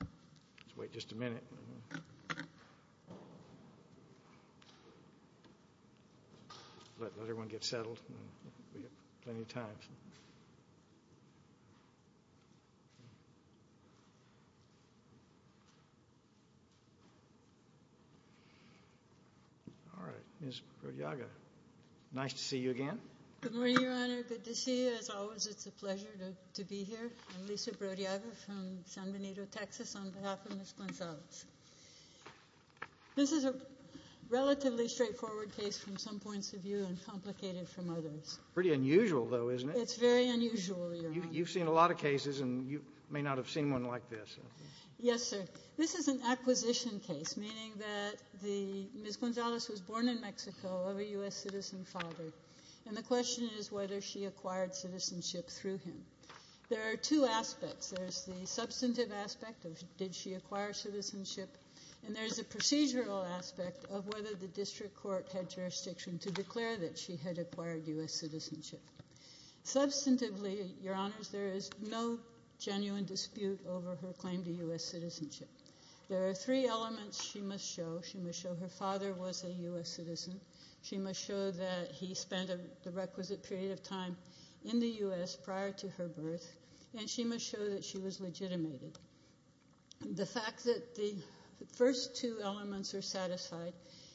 Let's wait just a minute. Let everyone get settled. We've got plenty of time. All right, Ms. Brodiaga, nice to see you again. Good morning, Your Honor. Good to see you. As always, it's a pleasure to be here. I'm Lisa Brodiaga from San Benito, Texas, on behalf of Ms. Gonzalez. This is a relatively straightforward case from some points of view and complicated from others. Pretty unusual, though, isn't it? It's very unusual, Your Honor. You've seen a lot of cases, and you may not have seen one like this. Yes, sir. This is an acquisition case, meaning that Ms. Gonzalez was born in Mexico of a U.S. citizen father. And the question is whether she acquired citizenship through him. There are two aspects. There's the substantive aspect of did she acquire citizenship, and there's a procedural aspect of whether the district court had jurisdiction to declare that she had acquired U.S. citizenship. Substantively, Your Honors, there is no genuine dispute over her claim to U.S. citizenship. There are three elements she must show. She must show her father was a U.S. citizen. She must show that he spent the requisite period of time in the U.S. prior to her birth. And she must show that she was legitimated. The fact that the first two elements are satisfied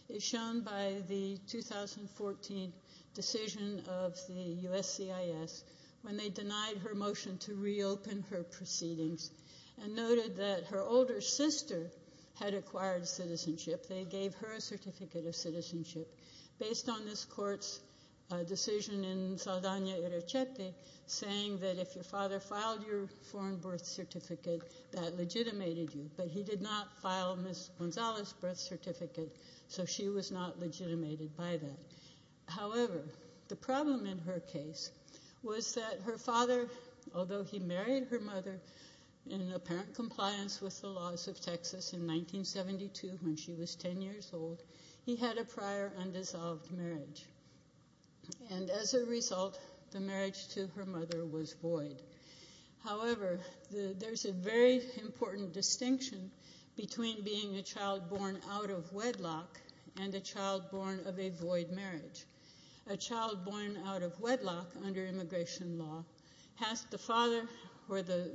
is shown by the 2014 decision of the USCIS when they denied her motion to reopen her proceedings and noted that her older sister had acquired citizenship. They gave her a certificate of citizenship based on this court's decision in Saldana-Irachete saying that if your father filed your foreign birth certificate, that legitimated you. But he did not file Ms. Gonzalez's birth certificate, so she was not legitimated by that. However, the problem in her case was that her father, although he married her mother in apparent compliance with the laws of Texas in 1972 when she was 10 years old, he had a prior undissolved marriage. And as a result, the marriage to her mother was void. However, there's a very important distinction between being a child born out of wedlock and a child born of a void marriage. A child born out of wedlock under immigration law has the father where the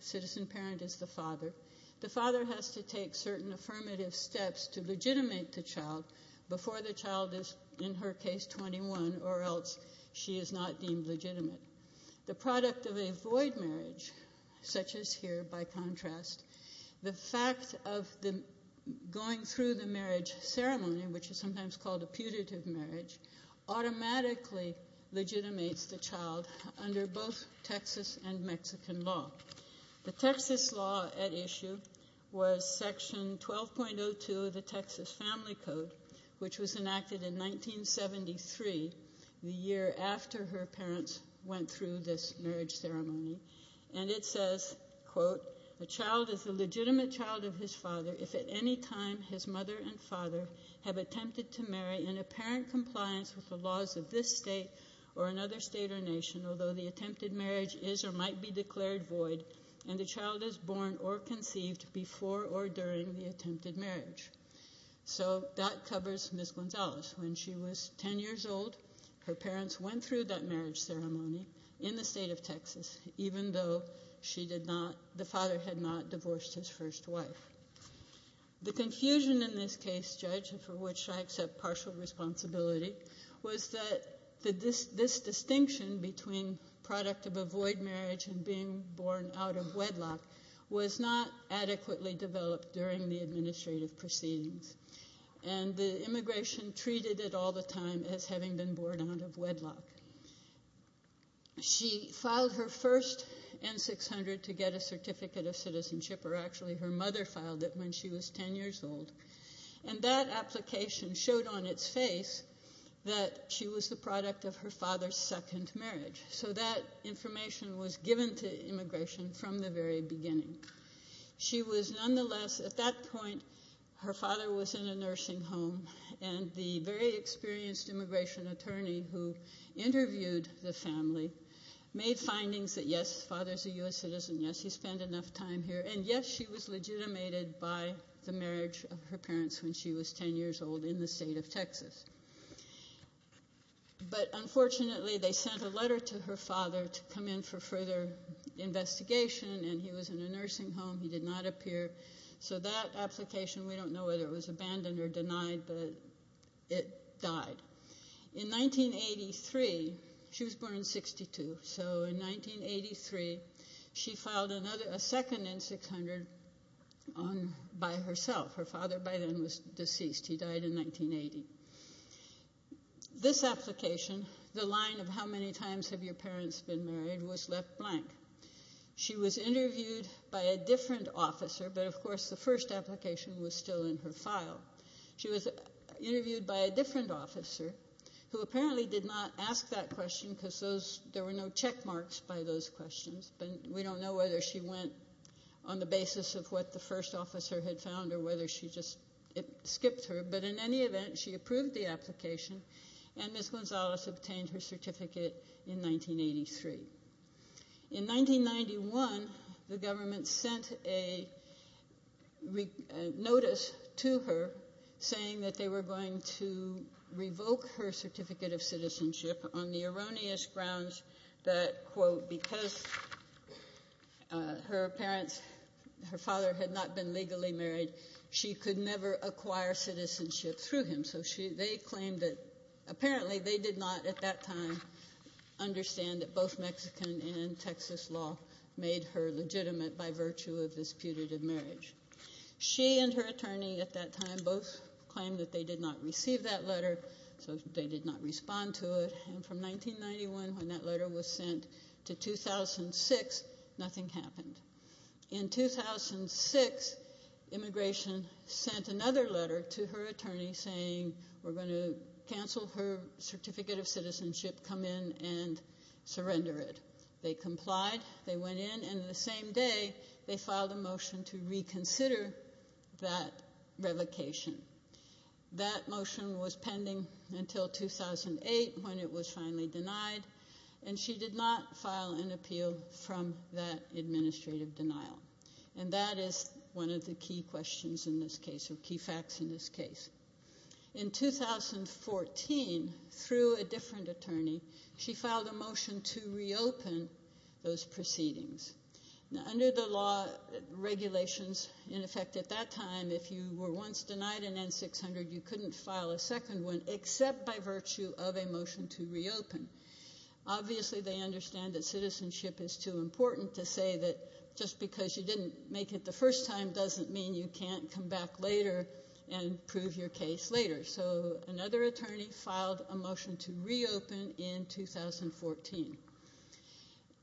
citizen parent is the father. The father has to take certain affirmative steps to legitimate the child before the child is, in her case, 21 or else she is not deemed legitimate. The product of a void marriage, such as here by contrast, the fact of going through the marriage ceremony, which is sometimes called a putative marriage, automatically legitimates the child under both Texas and Mexican law. The Texas law at issue was Section 12.02 of the Texas Family Code, which was enacted in 1973, the year after her parents went through this marriage ceremony. And it says, quote, A child is a legitimate child of his father if at any time his mother and father have attempted to marry in apparent compliance with the laws of this state or another state or nation, although the attempted marriage is or might be declared void and the child is born or conceived before or during the attempted marriage. So that covers Ms. Gonzalez. When she was 10 years old, her parents went through that marriage ceremony in the state of Texas, even though the father had not divorced his first wife. The confusion in this case, Judge, for which I accept partial responsibility, was that this distinction between product of a void marriage and being born out of wedlock was not adequately developed during the administrative proceedings. And the immigration treated it all the time as having been born out of wedlock. She filed her first N-600 to get a certificate of citizenship, or actually her mother filed it when she was 10 years old. And that application showed on its face that she was the product of her father's second marriage. So that information was given to immigration from the very beginning. She was nonetheless, at that point, her father was in a nursing home, and the very experienced immigration attorney who interviewed the family made findings that, yes, the father's a U.S. citizen, yes, he spent enough time here, and yes, she was legitimated by the marriage of her parents when she was 10 years old in the state of Texas. But unfortunately, they sent a letter to her father to come in for further investigation, and he was in a nursing home. He did not appear. So that application, we don't know whether it was abandoned or denied, but it died. In 1983, she was born in 62. So in 1983, she filed a second N-600 by herself. Her father by then was deceased. He died in 1980. This application, the line of how many times have your parents been married, was left blank. She was interviewed by a different officer, but, of course, the first application was still in her file. She was interviewed by a different officer who apparently did not ask that question because there were no check marks by those questions, but we don't know whether she went on the basis of what the first officer had found or whether she just skipped her. But in any event, she approved the application, and Ms. Gonzalez obtained her certificate in 1983. In 1991, the government sent a notice to her saying that they were going to revoke her certificate of citizenship on the erroneous grounds that, quote, because her father had not been legally married, she could never acquire citizenship through him. Apparently, they did not at that time understand that both Mexican and Texas law made her legitimate by virtue of this putative marriage. She and her attorney at that time both claimed that they did not receive that letter, so they did not respond to it. And from 1991, when that letter was sent to 2006, nothing happened. In 2006, immigration sent another letter to her attorney saying, we're going to cancel her certificate of citizenship, come in and surrender it. They complied. They went in, and the same day, they filed a motion to reconsider that revocation. That motion was pending until 2008 when it was finally denied, and she did not file an appeal from that administrative denial. And that is one of the key questions in this case or key facts in this case. In 2014, through a different attorney, she filed a motion to reopen those proceedings. Now, under the law regulations, in effect at that time, if you were once denied an N-600, you couldn't file a second one except by virtue of a motion to reopen. Obviously, they understand that citizenship is too important to say that just because you didn't make it the first time doesn't mean you can't come back later and prove your case later. So another attorney filed a motion to reopen in 2014.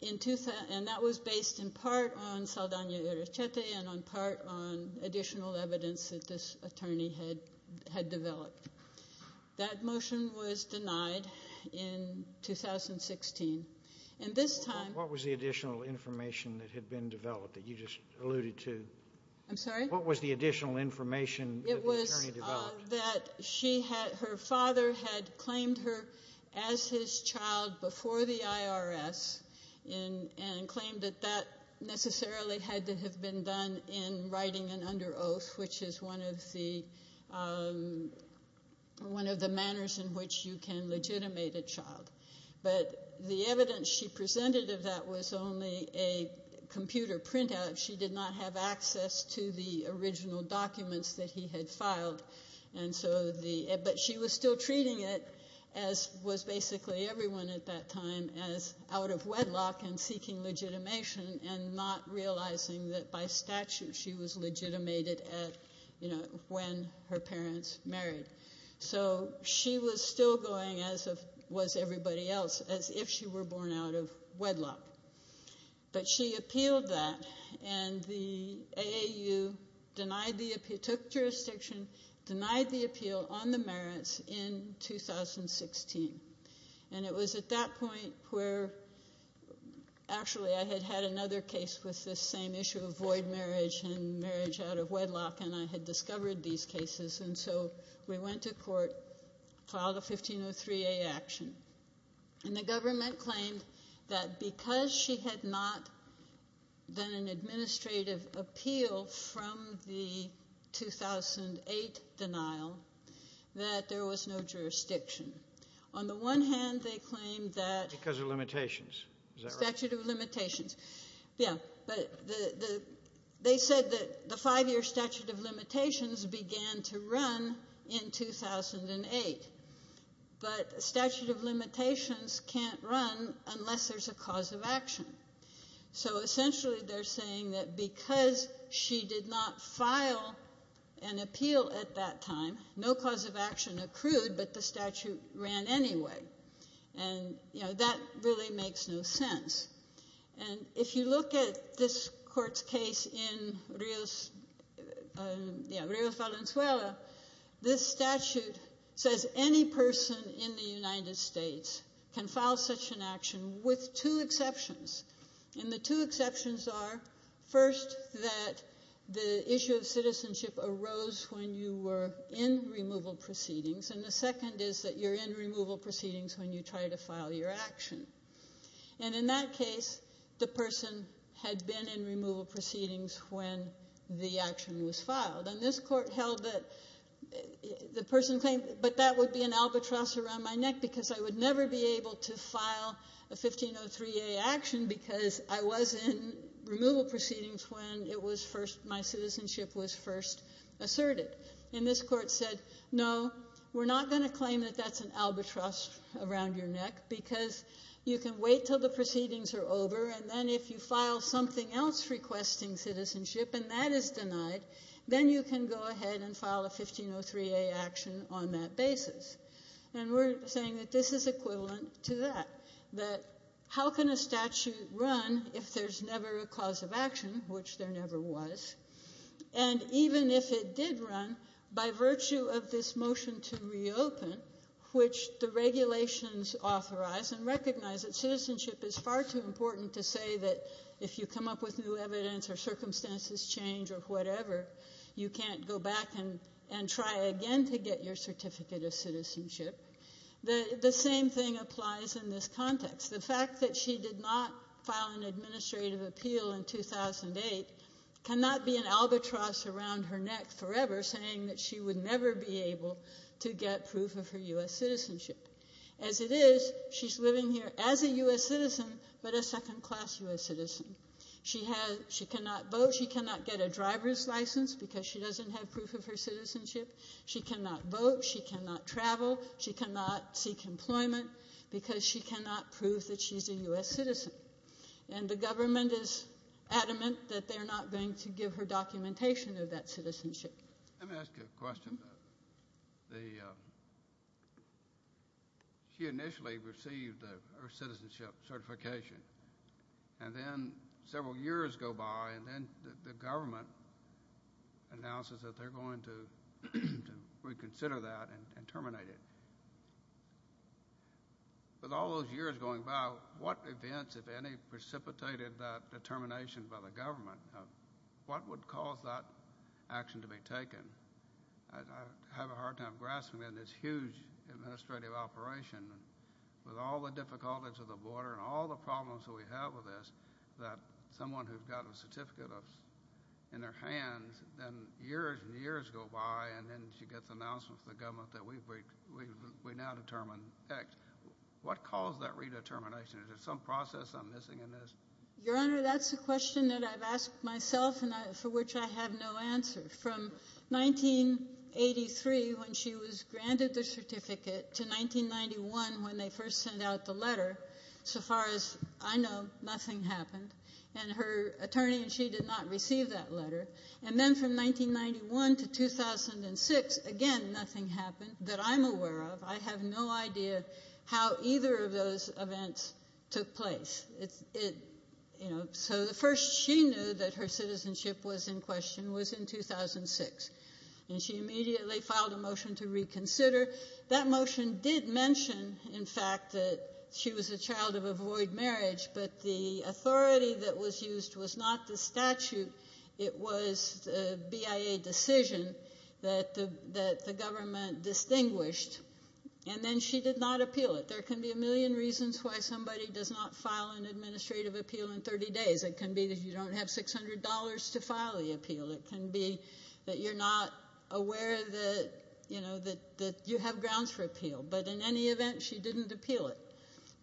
And that was based in part on Saldana Errechete and in part on additional evidence that this attorney had developed. That motion was denied in 2016. And this time- What was the additional information that had been developed that you just alluded to? I'm sorry? What was the additional information that the attorney developed? It was that her father had claimed her as his child before the IRS and claimed that that necessarily had to have been done in writing and under oath, which is one of the manners in which you can legitimate a child. But the evidence she presented of that was only a computer printout. She did not have access to the original documents that he had filed. But she was still treating it, as was basically everyone at that time, as out of wedlock and seeking legitimation and not realizing that by statute she was legitimated when her parents married. So she was still going, as was everybody else, as if she were born out of wedlock. But she appealed that, and the AAU took jurisdiction, denied the appeal on the merits in 2016. And it was at that point where- Actually, I had had another case with this same issue of void marriage and marriage out of wedlock, and I had discovered these cases. And so we went to court, filed a 1503A action. And the government claimed that because she had not done an administrative appeal from the 2008 denial, that there was no jurisdiction. On the one hand, they claimed that- Because of limitations. Is that right? Statute of limitations. Yeah. But they said that the five-year statute of limitations began to run in 2008. But statute of limitations can't run unless there's a cause of action. So essentially they're saying that because she did not file an appeal at that time, no cause of action accrued, but the statute ran anyway. And that really makes no sense. And if you look at this court's case in Rios Valenzuela, this statute says any person in the United States can file such an action with two exceptions, and the two exceptions are, first, that the issue of citizenship arose when you were in removal proceedings, and the second is that you're in removal proceedings when you try to file your action. And in that case, the person had been in removal proceedings when the action was filed. And this court held that the person claimed, because I would never be able to file a 1503A action because I was in removal proceedings when my citizenship was first asserted. And this court said, no, we're not going to claim that that's an albatross around your neck because you can wait until the proceedings are over, and then if you file something else requesting citizenship and that is denied, then you can go ahead and file a 1503A action on that basis. And we're saying that this is equivalent to that, that how can a statute run if there's never a cause of action, which there never was, and even if it did run by virtue of this motion to reopen, which the regulations authorize and recognize that citizenship is far too important to say that if you come up with new evidence or circumstances change or whatever, you can't go back and try again to get your certificate of citizenship. The same thing applies in this context. The fact that she did not file an administrative appeal in 2008 cannot be an albatross around her neck forever, saying that she would never be able to get proof of her U.S. citizenship. As it is, she's living here as a U.S. citizen, but a second-class U.S. citizen. She cannot vote. She cannot get a driver's license because she doesn't have proof of her citizenship. She cannot vote. She cannot travel. She cannot seek employment because she cannot prove that she's a U.S. citizen. And the government is adamant that they're not going to give her documentation of that citizenship. Let me ask you a question. She initially received her citizenship certification, and then several years go by, and then the government announces that they're going to reconsider that and terminate it. With all those years going by, what events, if any, precipitated that determination by the government? What would cause that action to be taken? I have a hard time grasping in this huge administrative operation with all the difficulties of the border and all the problems that we have with this that someone who's got a certificate in their hands, then years and years go by, and then she gets an announcement from the government that we now determine X. What caused that redetermination? Is there some process I'm missing in this? Your Honor, that's a question that I've asked myself and for which I have no answer. From 1983 when she was granted the certificate to 1991 when they first sent out the letter, so far as I know, nothing happened. And her attorney and she did not receive that letter. And then from 1991 to 2006, again, nothing happened that I'm aware of. I have no idea how either of those events took place. So the first she knew that her citizenship was in question was in 2006. And she immediately filed a motion to reconsider. That motion did mention, in fact, that she was a child of a void marriage, but the authority that was used was not the statute. It was the BIA decision that the government distinguished. And then she did not appeal it. There can be a million reasons why somebody does not file an administrative appeal in 30 days. It can be that you don't have $600 to file the appeal. It can be that you're not aware that you have grounds for appeal. But in any event, she didn't appeal it.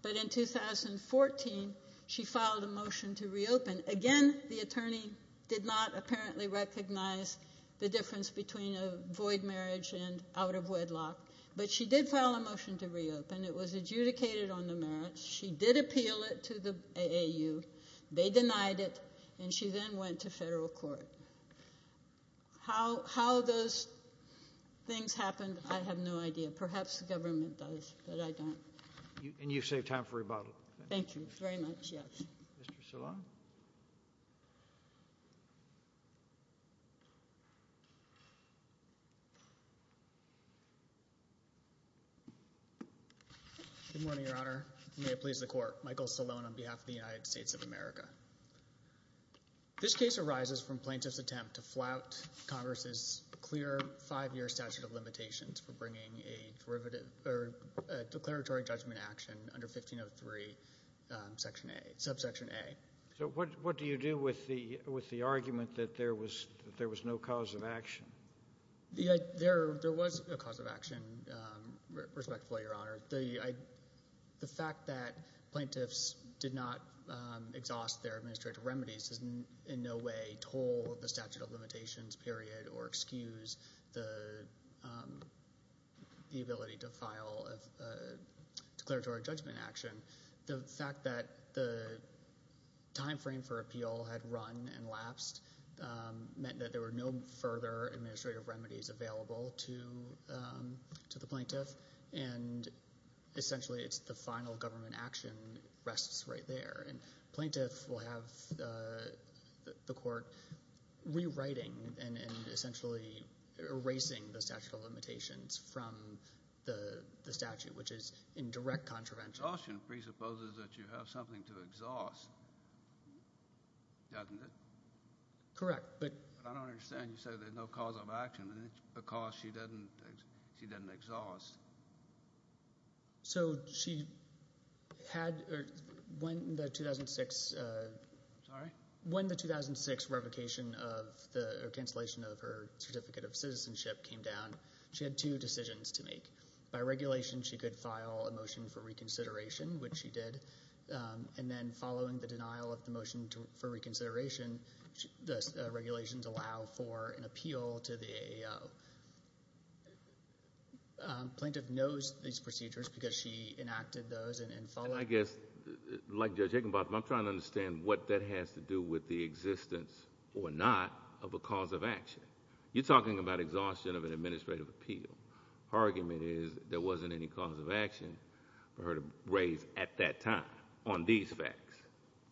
But in 2014, she filed a motion to reopen. Again, the attorney did not apparently recognize the difference between a void marriage and out of wedlock. But she did file a motion to reopen. It was adjudicated on the merits. She did appeal it to the AAU. They denied it. And she then went to federal court. How those things happened, I have no idea. Perhaps the government does, but I don't. And you saved time for rebuttal. Thank you very much, yes. Mr. Salone. Good morning, Your Honor. May it please the Court. Michael Salone on behalf of the United States of America. This case arises from plaintiff's attempt to flout Congress's clear five-year statute of limitations for bringing a declaratory judgment action under 1503 subsection A. So what do you do with the argument that there was no cause of action? There was a cause of action, respectfully, Your Honor. The fact that plaintiffs did not exhaust their administrative remedies in no way toll the statute of limitations, period, or excuse the ability to file a declaratory judgment action, the fact that the time frame for appeal had run and lapsed meant that there were no further administrative remedies available to the plaintiff. And essentially it's the final government action rests right there. And plaintiffs will have the court rewriting and essentially erasing the statute of limitations from the statute, which is in direct contravention. Exhaustion presupposes that you have something to exhaust, doesn't it? Correct, but – But I don't understand. You said there's no cause of action, and it's because she didn't exhaust. So she had – when the 2006 – sorry? When the 2006 revocation of the – or cancellation of her Certificate of Citizenship came down, she had two decisions to make. By regulation, she could file a motion for reconsideration, which she did, and then following the denial of the motion for reconsideration, the regulations allow for an appeal to the AO. Plaintiff knows these procedures because she enacted those and followed – And I guess, like Judge Higginbotham, I'm trying to understand what that has to do with the existence or not of a cause of action. You're talking about exhaustion of an administrative appeal. Her argument is there wasn't any cause of action for her to raise at that time on these facts.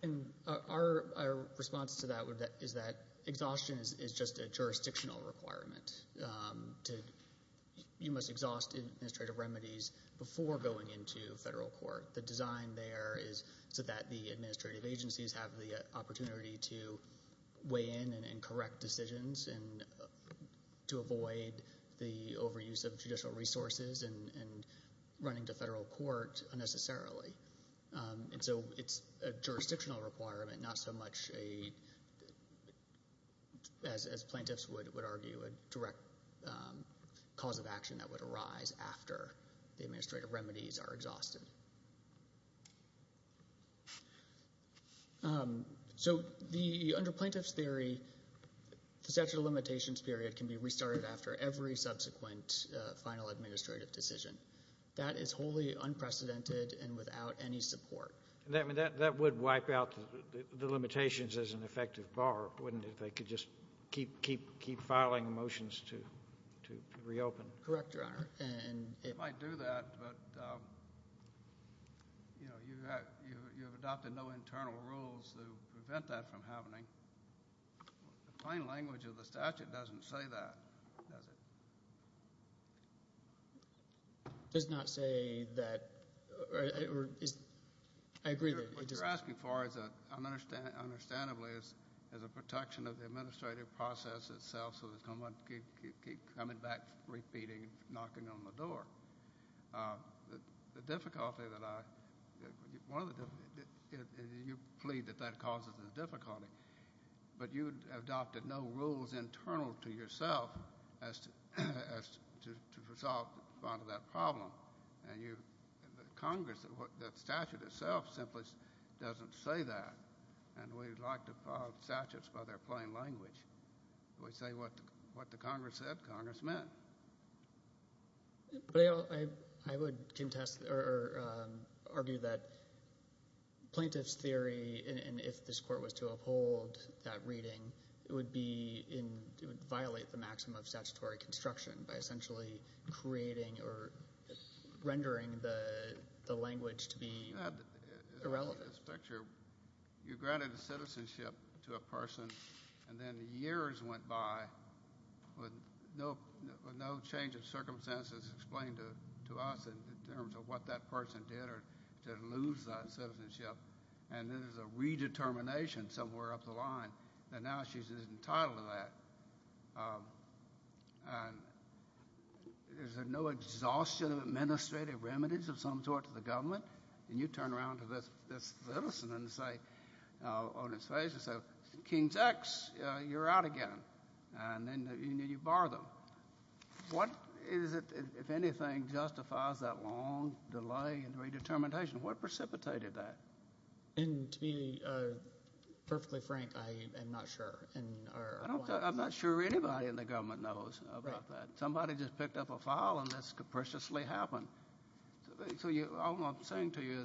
And our response to that is that exhaustion is just a jurisdictional requirement. You must exhaust administrative remedies before going into federal court. The design there is so that the administrative agencies have the opportunity to weigh in and correct decisions and to avoid the overuse of judicial resources and running to federal court unnecessarily. And so it's a jurisdictional requirement, not so much, as plaintiffs would argue, a direct cause of action that would arise after the administrative remedies are exhausted. So under plaintiff's theory, the statute of limitations period can be restarted after every subsequent final administrative decision. That is wholly unprecedented and without any support. That would wipe out the limitations as an effective bar, wouldn't it, if they could just keep filing motions to reopen? Correct, Your Honor. It might do that, but you have adopted no internal rules to prevent that from happening. The plain language of the statute doesn't say that, does it? It does not say that. I agree. What you're asking for is, understandably, is a protection of the administrative process itself so it's going to keep coming back, repeating, knocking on the door. The difficulty that I – you plead that that causes a difficulty, but you have adopted no rules internal to yourself as to resolve that problem. Congress, the statute itself simply doesn't say that, and we'd like to file statutes by their plain language. We say what the Congress said Congress meant. But I would contest or argue that plaintiff's theory, and if this court was to uphold that reading, it would violate the maximum of statutory construction by essentially creating or rendering the language to be irrelevant. You granted a citizenship to a person, and then years went by with no change of circumstances explained to us in terms of what that person did or didn't lose that citizenship, and then there's a redetermination somewhere up the line, and now she's entitled to that. Is there no exhaustion of administrative remedies of some sort to the government? And you turn around to this citizen on his face and say, King's X, you're out again, and then you bar them. What is it, if anything, justifies that long delay in redetermination? What precipitated that? And to be perfectly frank, I am not sure. I'm not sure anybody in the government knows about that. Somebody just picked up a file and this capriciously happened. So all I'm saying to you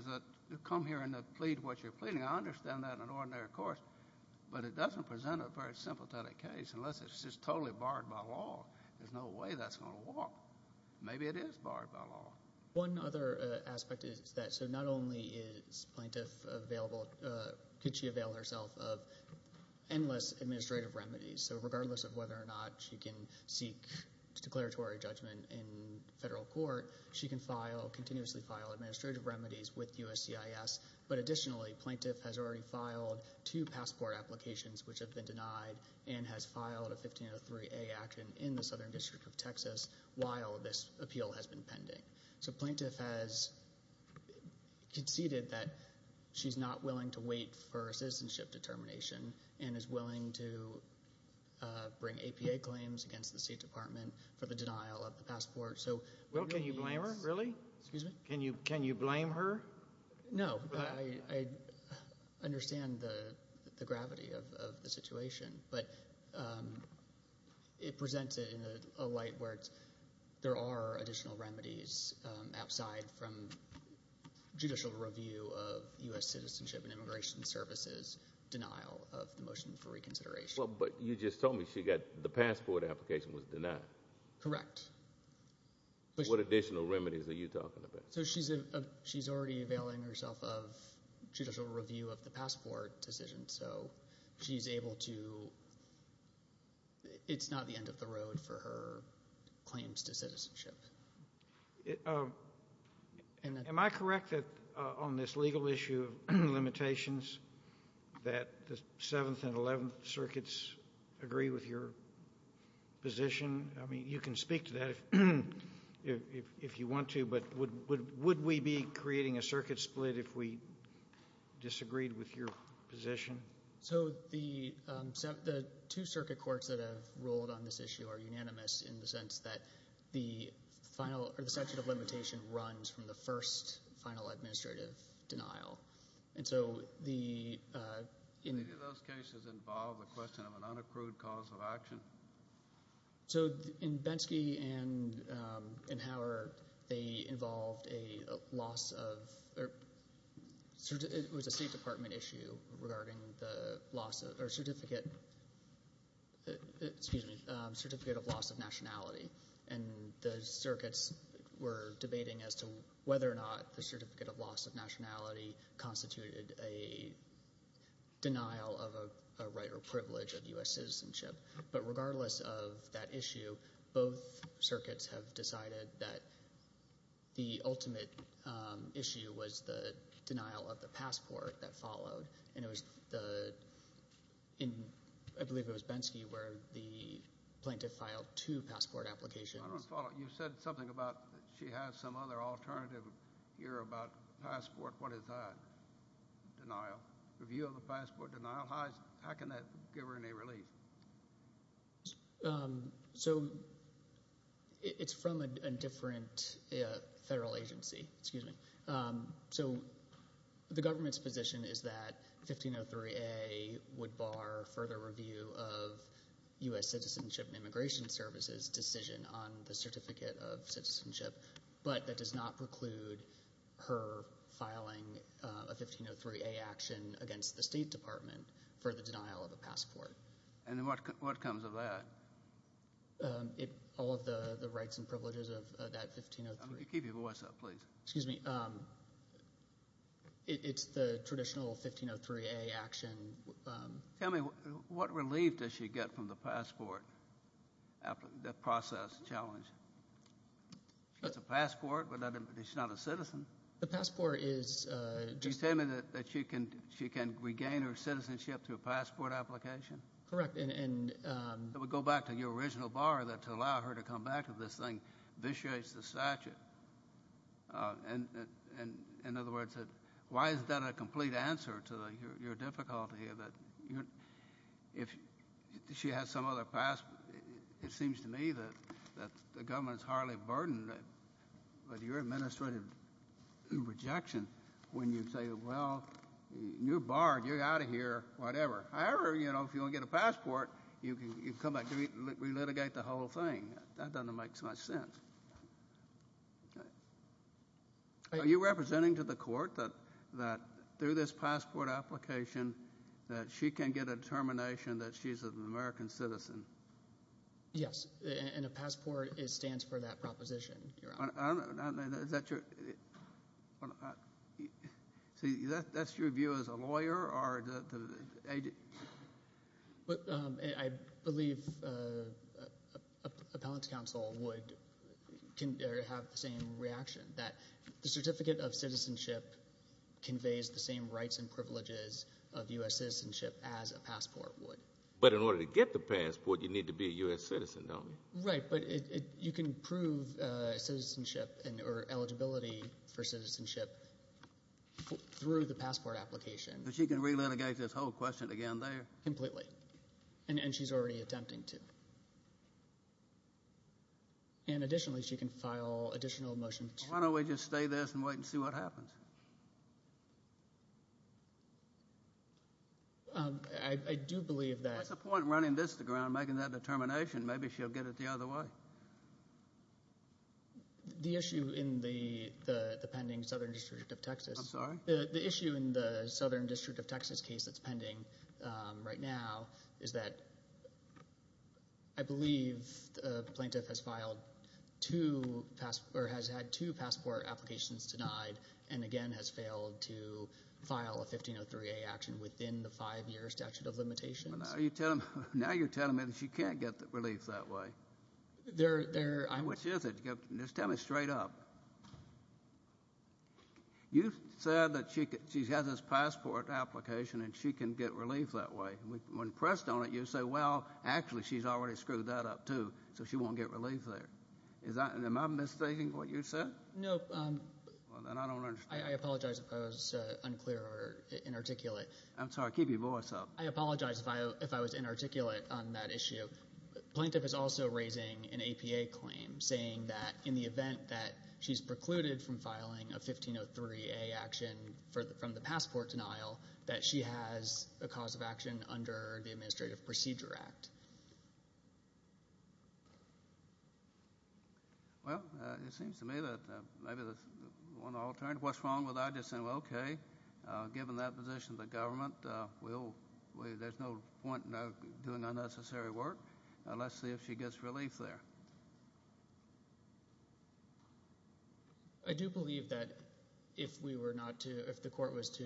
is come here and plead what you're pleading. I understand that in an ordinary court, but it doesn't present a very sympathetic case unless it's just totally barred by law. There's no way that's going to work. Maybe it is barred by law. One other aspect is that so not only is plaintiff available, could she avail herself of endless administrative remedies. So regardless of whether or not she can seek declaratory judgment in federal court, she can continuously file administrative remedies with USCIS. But additionally, plaintiff has already filed two passport applications, which have been denied, and has filed a 1503A action in the Southern District of Texas while this appeal has been pending. So plaintiff has conceded that she's not willing to wait for citizenship determination and is willing to bring APA claims against the State Department for the denial of the passport. Will, can you blame her? Really? Excuse me? Can you blame her? No. I understand the gravity of the situation. But it presents it in a light where there are additional remedies outside from judicial review of U.S. citizenship and immigration services, denial of the motion for reconsideration. But you just told me the passport application was denied. Correct. What additional remedies are you talking about? So she's already availing herself of judicial review of the passport decision, so she's able to, it's not the end of the road for her claims to citizenship. Am I correct that on this legal issue of limitations that the 7th and 11th Circuits agree with your position? I mean, you can speak to that if you want to, but would we be creating a circuit split if we disagreed with your position? So the two circuit courts that have ruled on this issue are unanimous in the sense that the final, or the statute of limitation runs from the first final administrative denial. Do those cases involve the question of an unaccrued cause of action? So in Bensky and Hauer, they involved a loss of, it was a State Department issue regarding the certificate of loss of nationality, and the circuits were debating as to whether or not the certificate of loss of nationality constituted a denial of a right or privilege of U.S. citizenship. But regardless of that issue, both circuits have decided that the ultimate issue was the denial of the passport that followed. And I believe it was Bensky where the plaintiff filed two passport applications. I don't follow. You said something about she has some other alternative here about passport. What is that? Denial. Review of a passport denial. How can that give her any relief? So it's from a different federal agency. So the government's position is that 1503A would bar further review of U.S. citizenship and immigration services decision on the certificate of citizenship, but that does not preclude her filing a 1503A action against the State Department for the denial of a passport. And what comes of that? All of the rights and privileges of that 1503. Keep your voice up, please. Excuse me. It's the traditional 1503A action. Tell me, what relief does she get from the passport process challenge? She gets a passport, but she's not a citizen. The passport is just... Can you tell me that she can regain her citizenship through a passport application? Correct. It would go back to your original bar that to allow her to come back to this thing vitiates the statute. In other words, why is that a complete answer to your difficulty? If she has some other passport, it seems to me that the government is highly burdened with your administrative rejection when you say, well, you're barred, you're out of here, whatever. However, if you don't get a passport, you can come back and relitigate the whole thing. That doesn't make so much sense. Are you representing to the court that through this passport application that she can get a determination that she's an American citizen? Yes, and a passport stands for that proposition. Is that your view as a lawyer? I believe appellate counsel would have the same reaction, that the certificate of citizenship conveys the same rights and privileges of U.S. citizenship as a passport would. But in order to get the passport, you need to be a U.S. citizen, don't you? Right, but you can prove citizenship or eligibility for citizenship through the passport application. But she can relitigate this whole question again there? Completely, and she's already attempting to. And additionally, she can file additional motions. Why don't we just stay this and wait and see what happens? I do believe that. What's the point in running this to the ground and making that determination? Maybe she'll get it the other way. The issue in the pending Southern District of Texas. I'm sorry? The issue in the Southern District of Texas case that's pending right now is that I believe the plaintiff has had two passport applications denied and, again, has failed to file a 1503A action within the five-year statute of limitations. Now you're telling me that she can't get relief that way. Which is it? Just tell me straight up. You said that she has this passport application and she can get relief that way. When pressed on it, you say, well, actually, she's already screwed that up, too, so she won't get relief there. Am I mistaking what you said? No. Well, then I don't understand. I apologize if I was unclear or inarticulate. I'm sorry. Keep your voice up. I apologize if I was inarticulate on that issue. The plaintiff is also raising an APA claim, saying that in the event that she's precluded from filing a 1503A action from the passport denial, that she has a cause of action under the Administrative Procedure Act. Well, it seems to me that maybe there's one alternative. What's wrong with that? Given that position of the government, there's no point in her doing unnecessary work. Let's see if she gets relief there. I do believe that if the court was to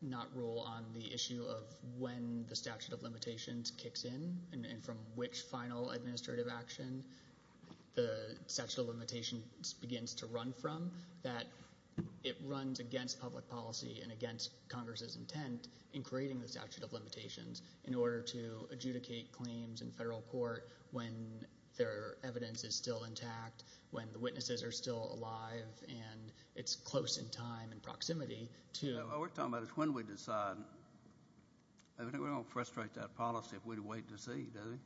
not rule on the issue of when the statute of limitations kicks in and from which final administrative action the statute of limitations begins to run from, that it runs against public policy and against Congress's intent in creating the statute of limitations in order to adjudicate claims in federal court when their evidence is still intact, when the witnesses are still alive, and it's close in time and proximity to— What we're talking about is when we decide. I don't think we're going to frustrate that policy if we wait to see, do we?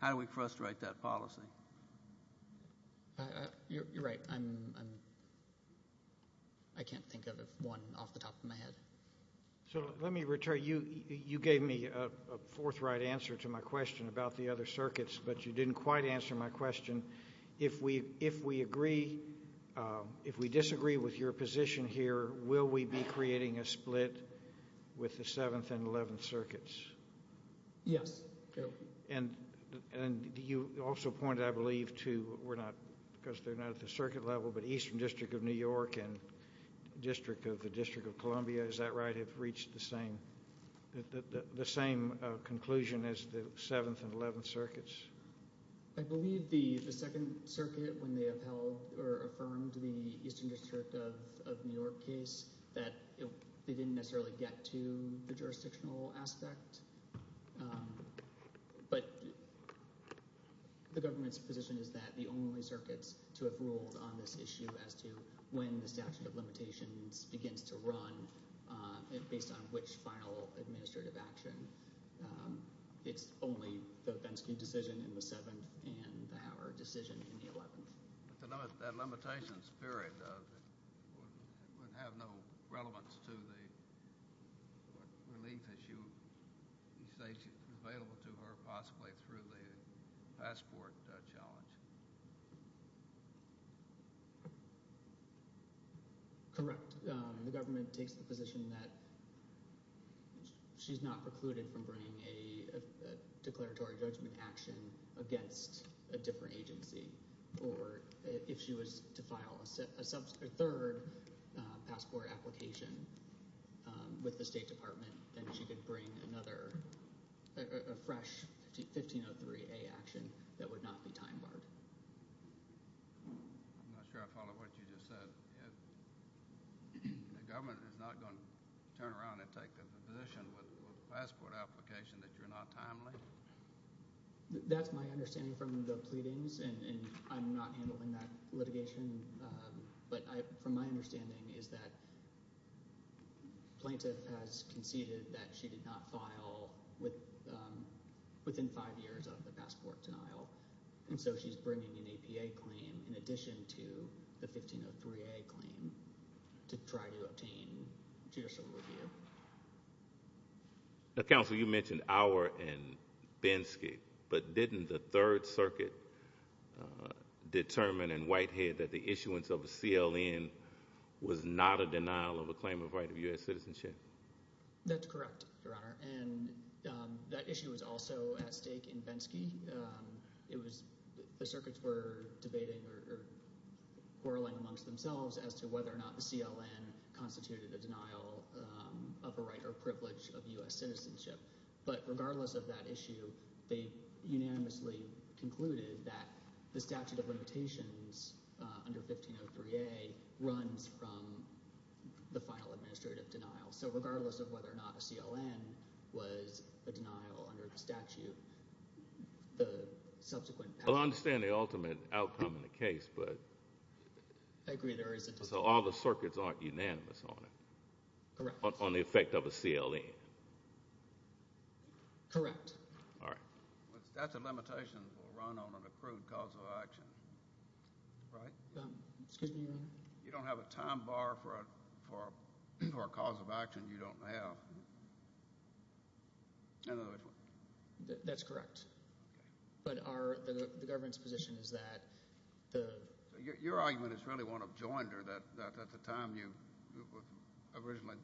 How do we frustrate that policy? You're right. I can't think of one off the top of my head. So let me return. You gave me a forthright answer to my question about the other circuits, but you didn't quite answer my question. If we disagree with your position here, will we be creating a split with the Seventh and Eleventh Circuits? Yes. And you also pointed, I believe, to—we're not—because they're not at the circuit level, but Eastern District of New York and the District of Columbia, is that right, have reached the same conclusion as the Seventh and Eleventh Circuits? I believe the Second Circuit, when they upheld or affirmed the Eastern District of New York case, that they didn't necessarily get to the jurisdictional aspect, but the government's position is that the only circuits to have ruled on this issue as to when the statute of limitations begins to run and based on which final administrative action. It's only the Bensky decision in the Seventh and the Howard decision in the Eleventh. That limitation spirit would have no relevance to the relief issue available to her, possibly through the passport challenge. Correct. The government takes the position that she's not precluded from bringing a declaratory judgment action against a different agency, or if she was to file a third passport application with the State Department, then she could bring another—a fresh 1503A action that would not be time-barred. I'm not sure I follow what you just said. The government is not going to turn around and take the position with a passport application that you're not timely? That's my understanding from the pleadings, and I'm not handling that litigation. But from my understanding is that Plaintiff has conceded that she did not file within five years of the passport denial, and so she's bringing an APA claim in addition to the 1503A claim to try to obtain judicial review. Now, Counselor, you mentioned Auer and Bensky, but didn't the Third Circuit determine in Whitehead that the issuance of a CLN was not a denial of a claim of right of U.S. citizenship? That's correct, Your Honor, and that issue is also at stake in Bensky. It was—the circuits were debating or quarreling amongst themselves as to whether or not the CLN constituted a denial of a right or privilege of U.S. citizenship. But regardless of that issue, they unanimously concluded that the statute of limitations under 1503A runs from the final administrative denial. So regardless of whether or not a CLN was a denial under the statute, the subsequent— Well, I understand the ultimate outcome in the case, but— I agree there isn't a— So all the circuits aren't unanimous on it. Correct. On the effect of a CLN. Correct. All right. That's a limitation that will run on an approved cause of action, right? Excuse me, Your Honor? You don't have a time bar for a cause of action you don't have. That's correct. Okay. But our—the government's position is that the— Your argument is really one of joinder, that at the time you originally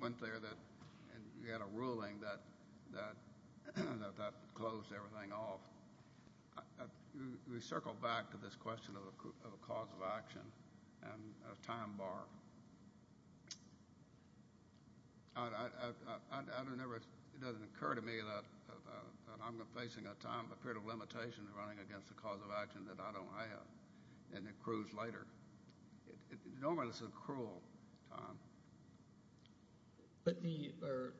went there that you had a ruling that that closed everything off. We circle back to this question of a cause of action and a time bar. I don't ever—it doesn't occur to me that I'm facing a time—a period of limitation running against a cause of action that I don't have, and it accrues later. Normally, this is a cruel time. But the—or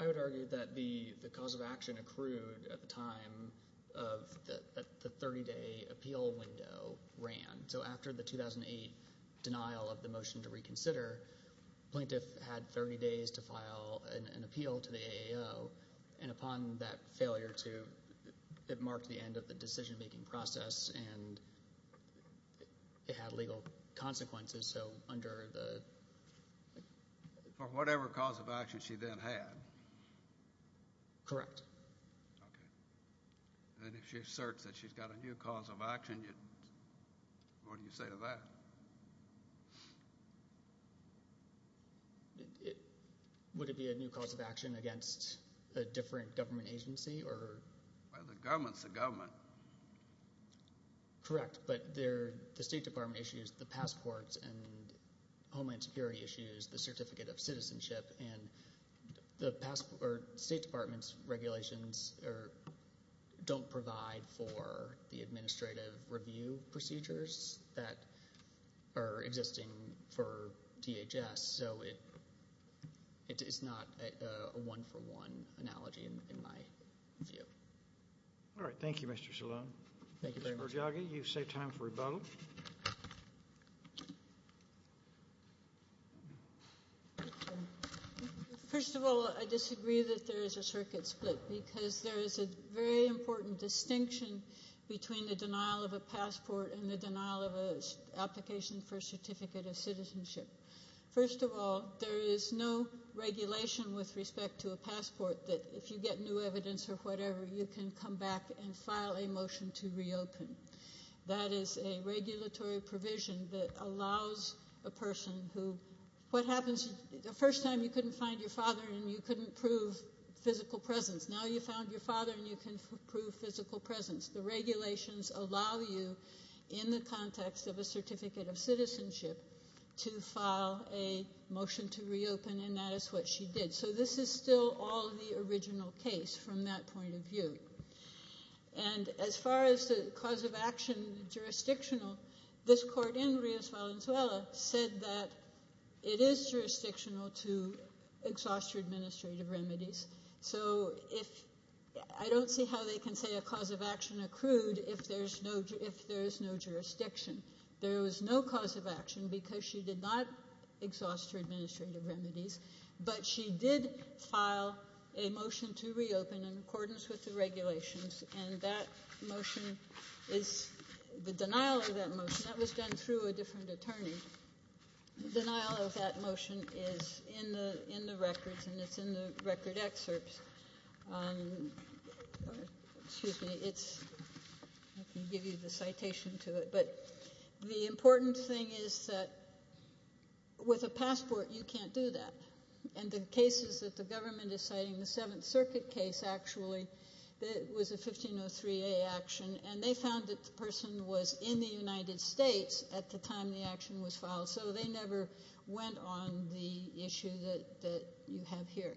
I would argue that the cause of action accrued at the time of the 30-day appeal window ran. So after the 2008 denial of the motion to reconsider, plaintiff had 30 days to file an appeal to the AAO. And upon that failure to—it marked the end of the decision-making process, and it had legal consequences. So under the— For whatever cause of action she then had. Correct. Okay. And if she asserts that she's got a new cause of action, what do you say to that? Would it be a new cause of action against a different government agency or— Well, the government's the government. Correct, but the State Department issues the passports and Homeland Security issues the Certificate of Citizenship, and the State Department's regulations don't provide for the administrative review procedures that are existing for DHS. So it's not a one-for-one analogy in my view. All right. Thank you, Mr. Shalom. Mr. Bergiaghi, you've saved time for rebuttal. First of all, I disagree that there is a circuit split because there is a very important distinction between the denial of a passport and the denial of an application for a Certificate of Citizenship. First of all, there is no regulation with respect to a passport that if you get new evidence or whatever, you can come back and file a motion to reopen. That is a regulatory provision that allows a person who— What happens the first time you couldn't find your father and you couldn't prove physical presence? Now you found your father and you can prove physical presence. The regulations allow you in the context of a Certificate of Citizenship to file a motion to reopen, and that is what she did. So this is still all the original case from that point of view. And as far as the cause of action jurisdictional, this court in Rios Valenzuela said that it is jurisdictional to exhaust your administrative remedies. So if—I don't see how they can say a cause of action accrued if there is no jurisdiction. There was no cause of action because she did not exhaust her administrative remedies, but she did file a motion to reopen in accordance with the regulations, and that motion is— the denial of that motion, that was done through a different attorney. The denial of that motion is in the records and it's in the record excerpts. Excuse me, it's—I can give you the citation to it. But the important thing is that with a passport you can't do that. And the cases that the government is citing, the Seventh Circuit case actually, that was a 1503A action, and they found that the person was in the United States at the time the action was filed, so they never went on the issue that you have here.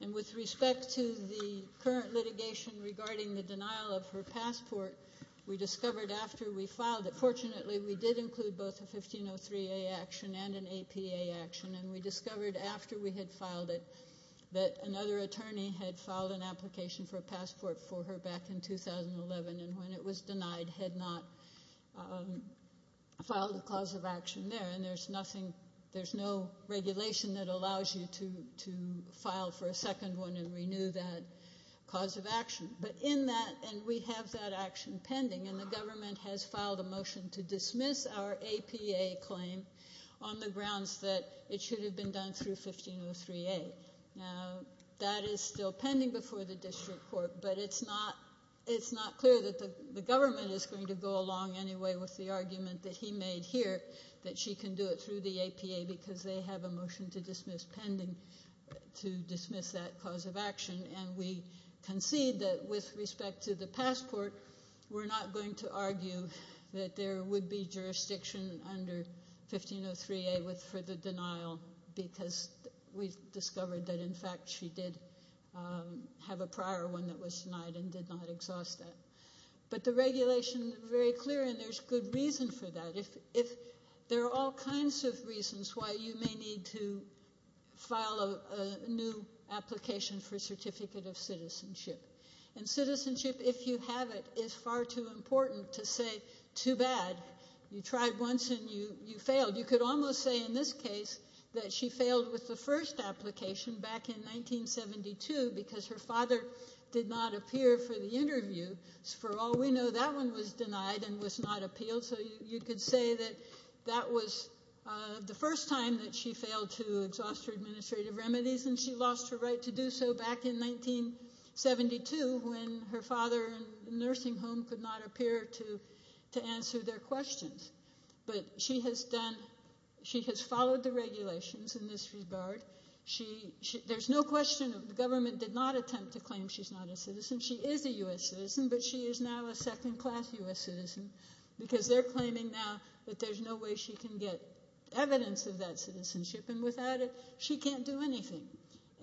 And with respect to the current litigation regarding the denial of her passport, we discovered after we filed it, fortunately we did include both a 1503A action and an APA action, and we discovered after we had filed it that another attorney had filed an application for a passport for her back in 2011, and when it was denied had not filed a cause of action there. And there's nothing—there's no regulation that allows you to file for a second one and renew that cause of action. But in that—and we have that action pending, and the government has filed a motion to dismiss our APA claim on the grounds that it should have been done through 1503A. Now, that is still pending before the district court, but it's not clear that the government is going to go along anyway with the argument that he made here, that she can do it through the APA because they have a motion to dismiss pending to dismiss that cause of action. And we concede that with respect to the passport, we're not going to argue that there would be jurisdiction under 1503A for the denial because we discovered that, in fact, she did have a prior one that was denied and did not exhaust that. But the regulation is very clear, and there's good reason for that. There are all kinds of reasons why you may need to file a new application for a certificate of citizenship. And citizenship, if you have it, is far too important to say too bad. You tried once and you failed. You could almost say in this case that she failed with the first application back in 1972 because her father did not appear for the interview. For all we know, that one was denied and was not appealed, so you could say that that was the first time that she failed to exhaust her administrative remedies and she lost her right to do so back in 1972 when her father in the nursing home could not appear to answer their questions. But she has followed the regulations in this regard. There's no question that the government did not attempt to claim she's not a citizen. She is a U.S. citizen, but she is now a second-class U.S. citizen because they're claiming now that there's no way she can get evidence of that citizenship, and without it, she can't do anything.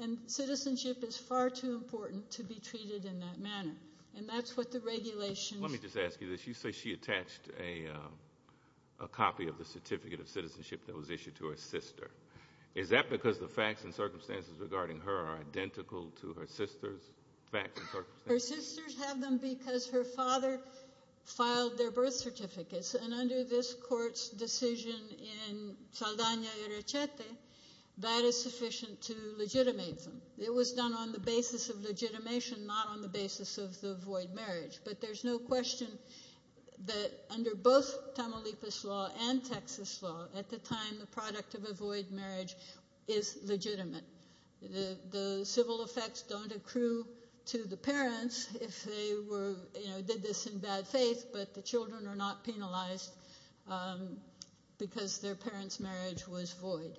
And citizenship is far too important to be treated in that manner. And that's what the regulations— Let me just ask you this. You say she attached a copy of the certificate of citizenship that was issued to her sister. Is that because the facts and circumstances regarding her are identical to her sister's facts and circumstances? Her sisters have them because her father filed their birth certificates, and under this court's decision in Saldana y Rechete, that is sufficient to legitimate them. It was done on the basis of legitimation, not on the basis of the void marriage. But there's no question that under both Tamaulipas law and Texas law, at the time the product of a void marriage is legitimate. The civil effects don't accrue to the parents if they did this in bad faith, but the children are not penalized because their parents' marriage was void.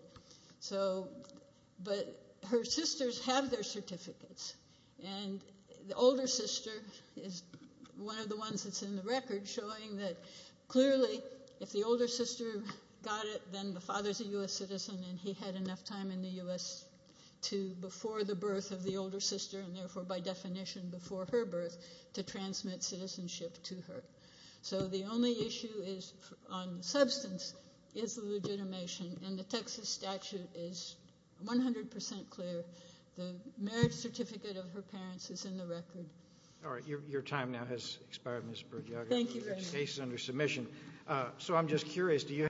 But her sisters have their certificates, and the older sister is one of the ones that's in the record showing that, clearly, if the older sister got it, then the father's a U.S. citizen and he had enough time in the U.S. before the birth of the older sister, and therefore by definition before her birth, to transmit citizenship to her. So the only issue on substance is the legitimation, and the Texas statute is 100% clear. The marriage certificate of her parents is in the record. All right. Your time now has expired, Ms. Bergiaga. Thank you very much. Your case is under submission. So I'm just curious.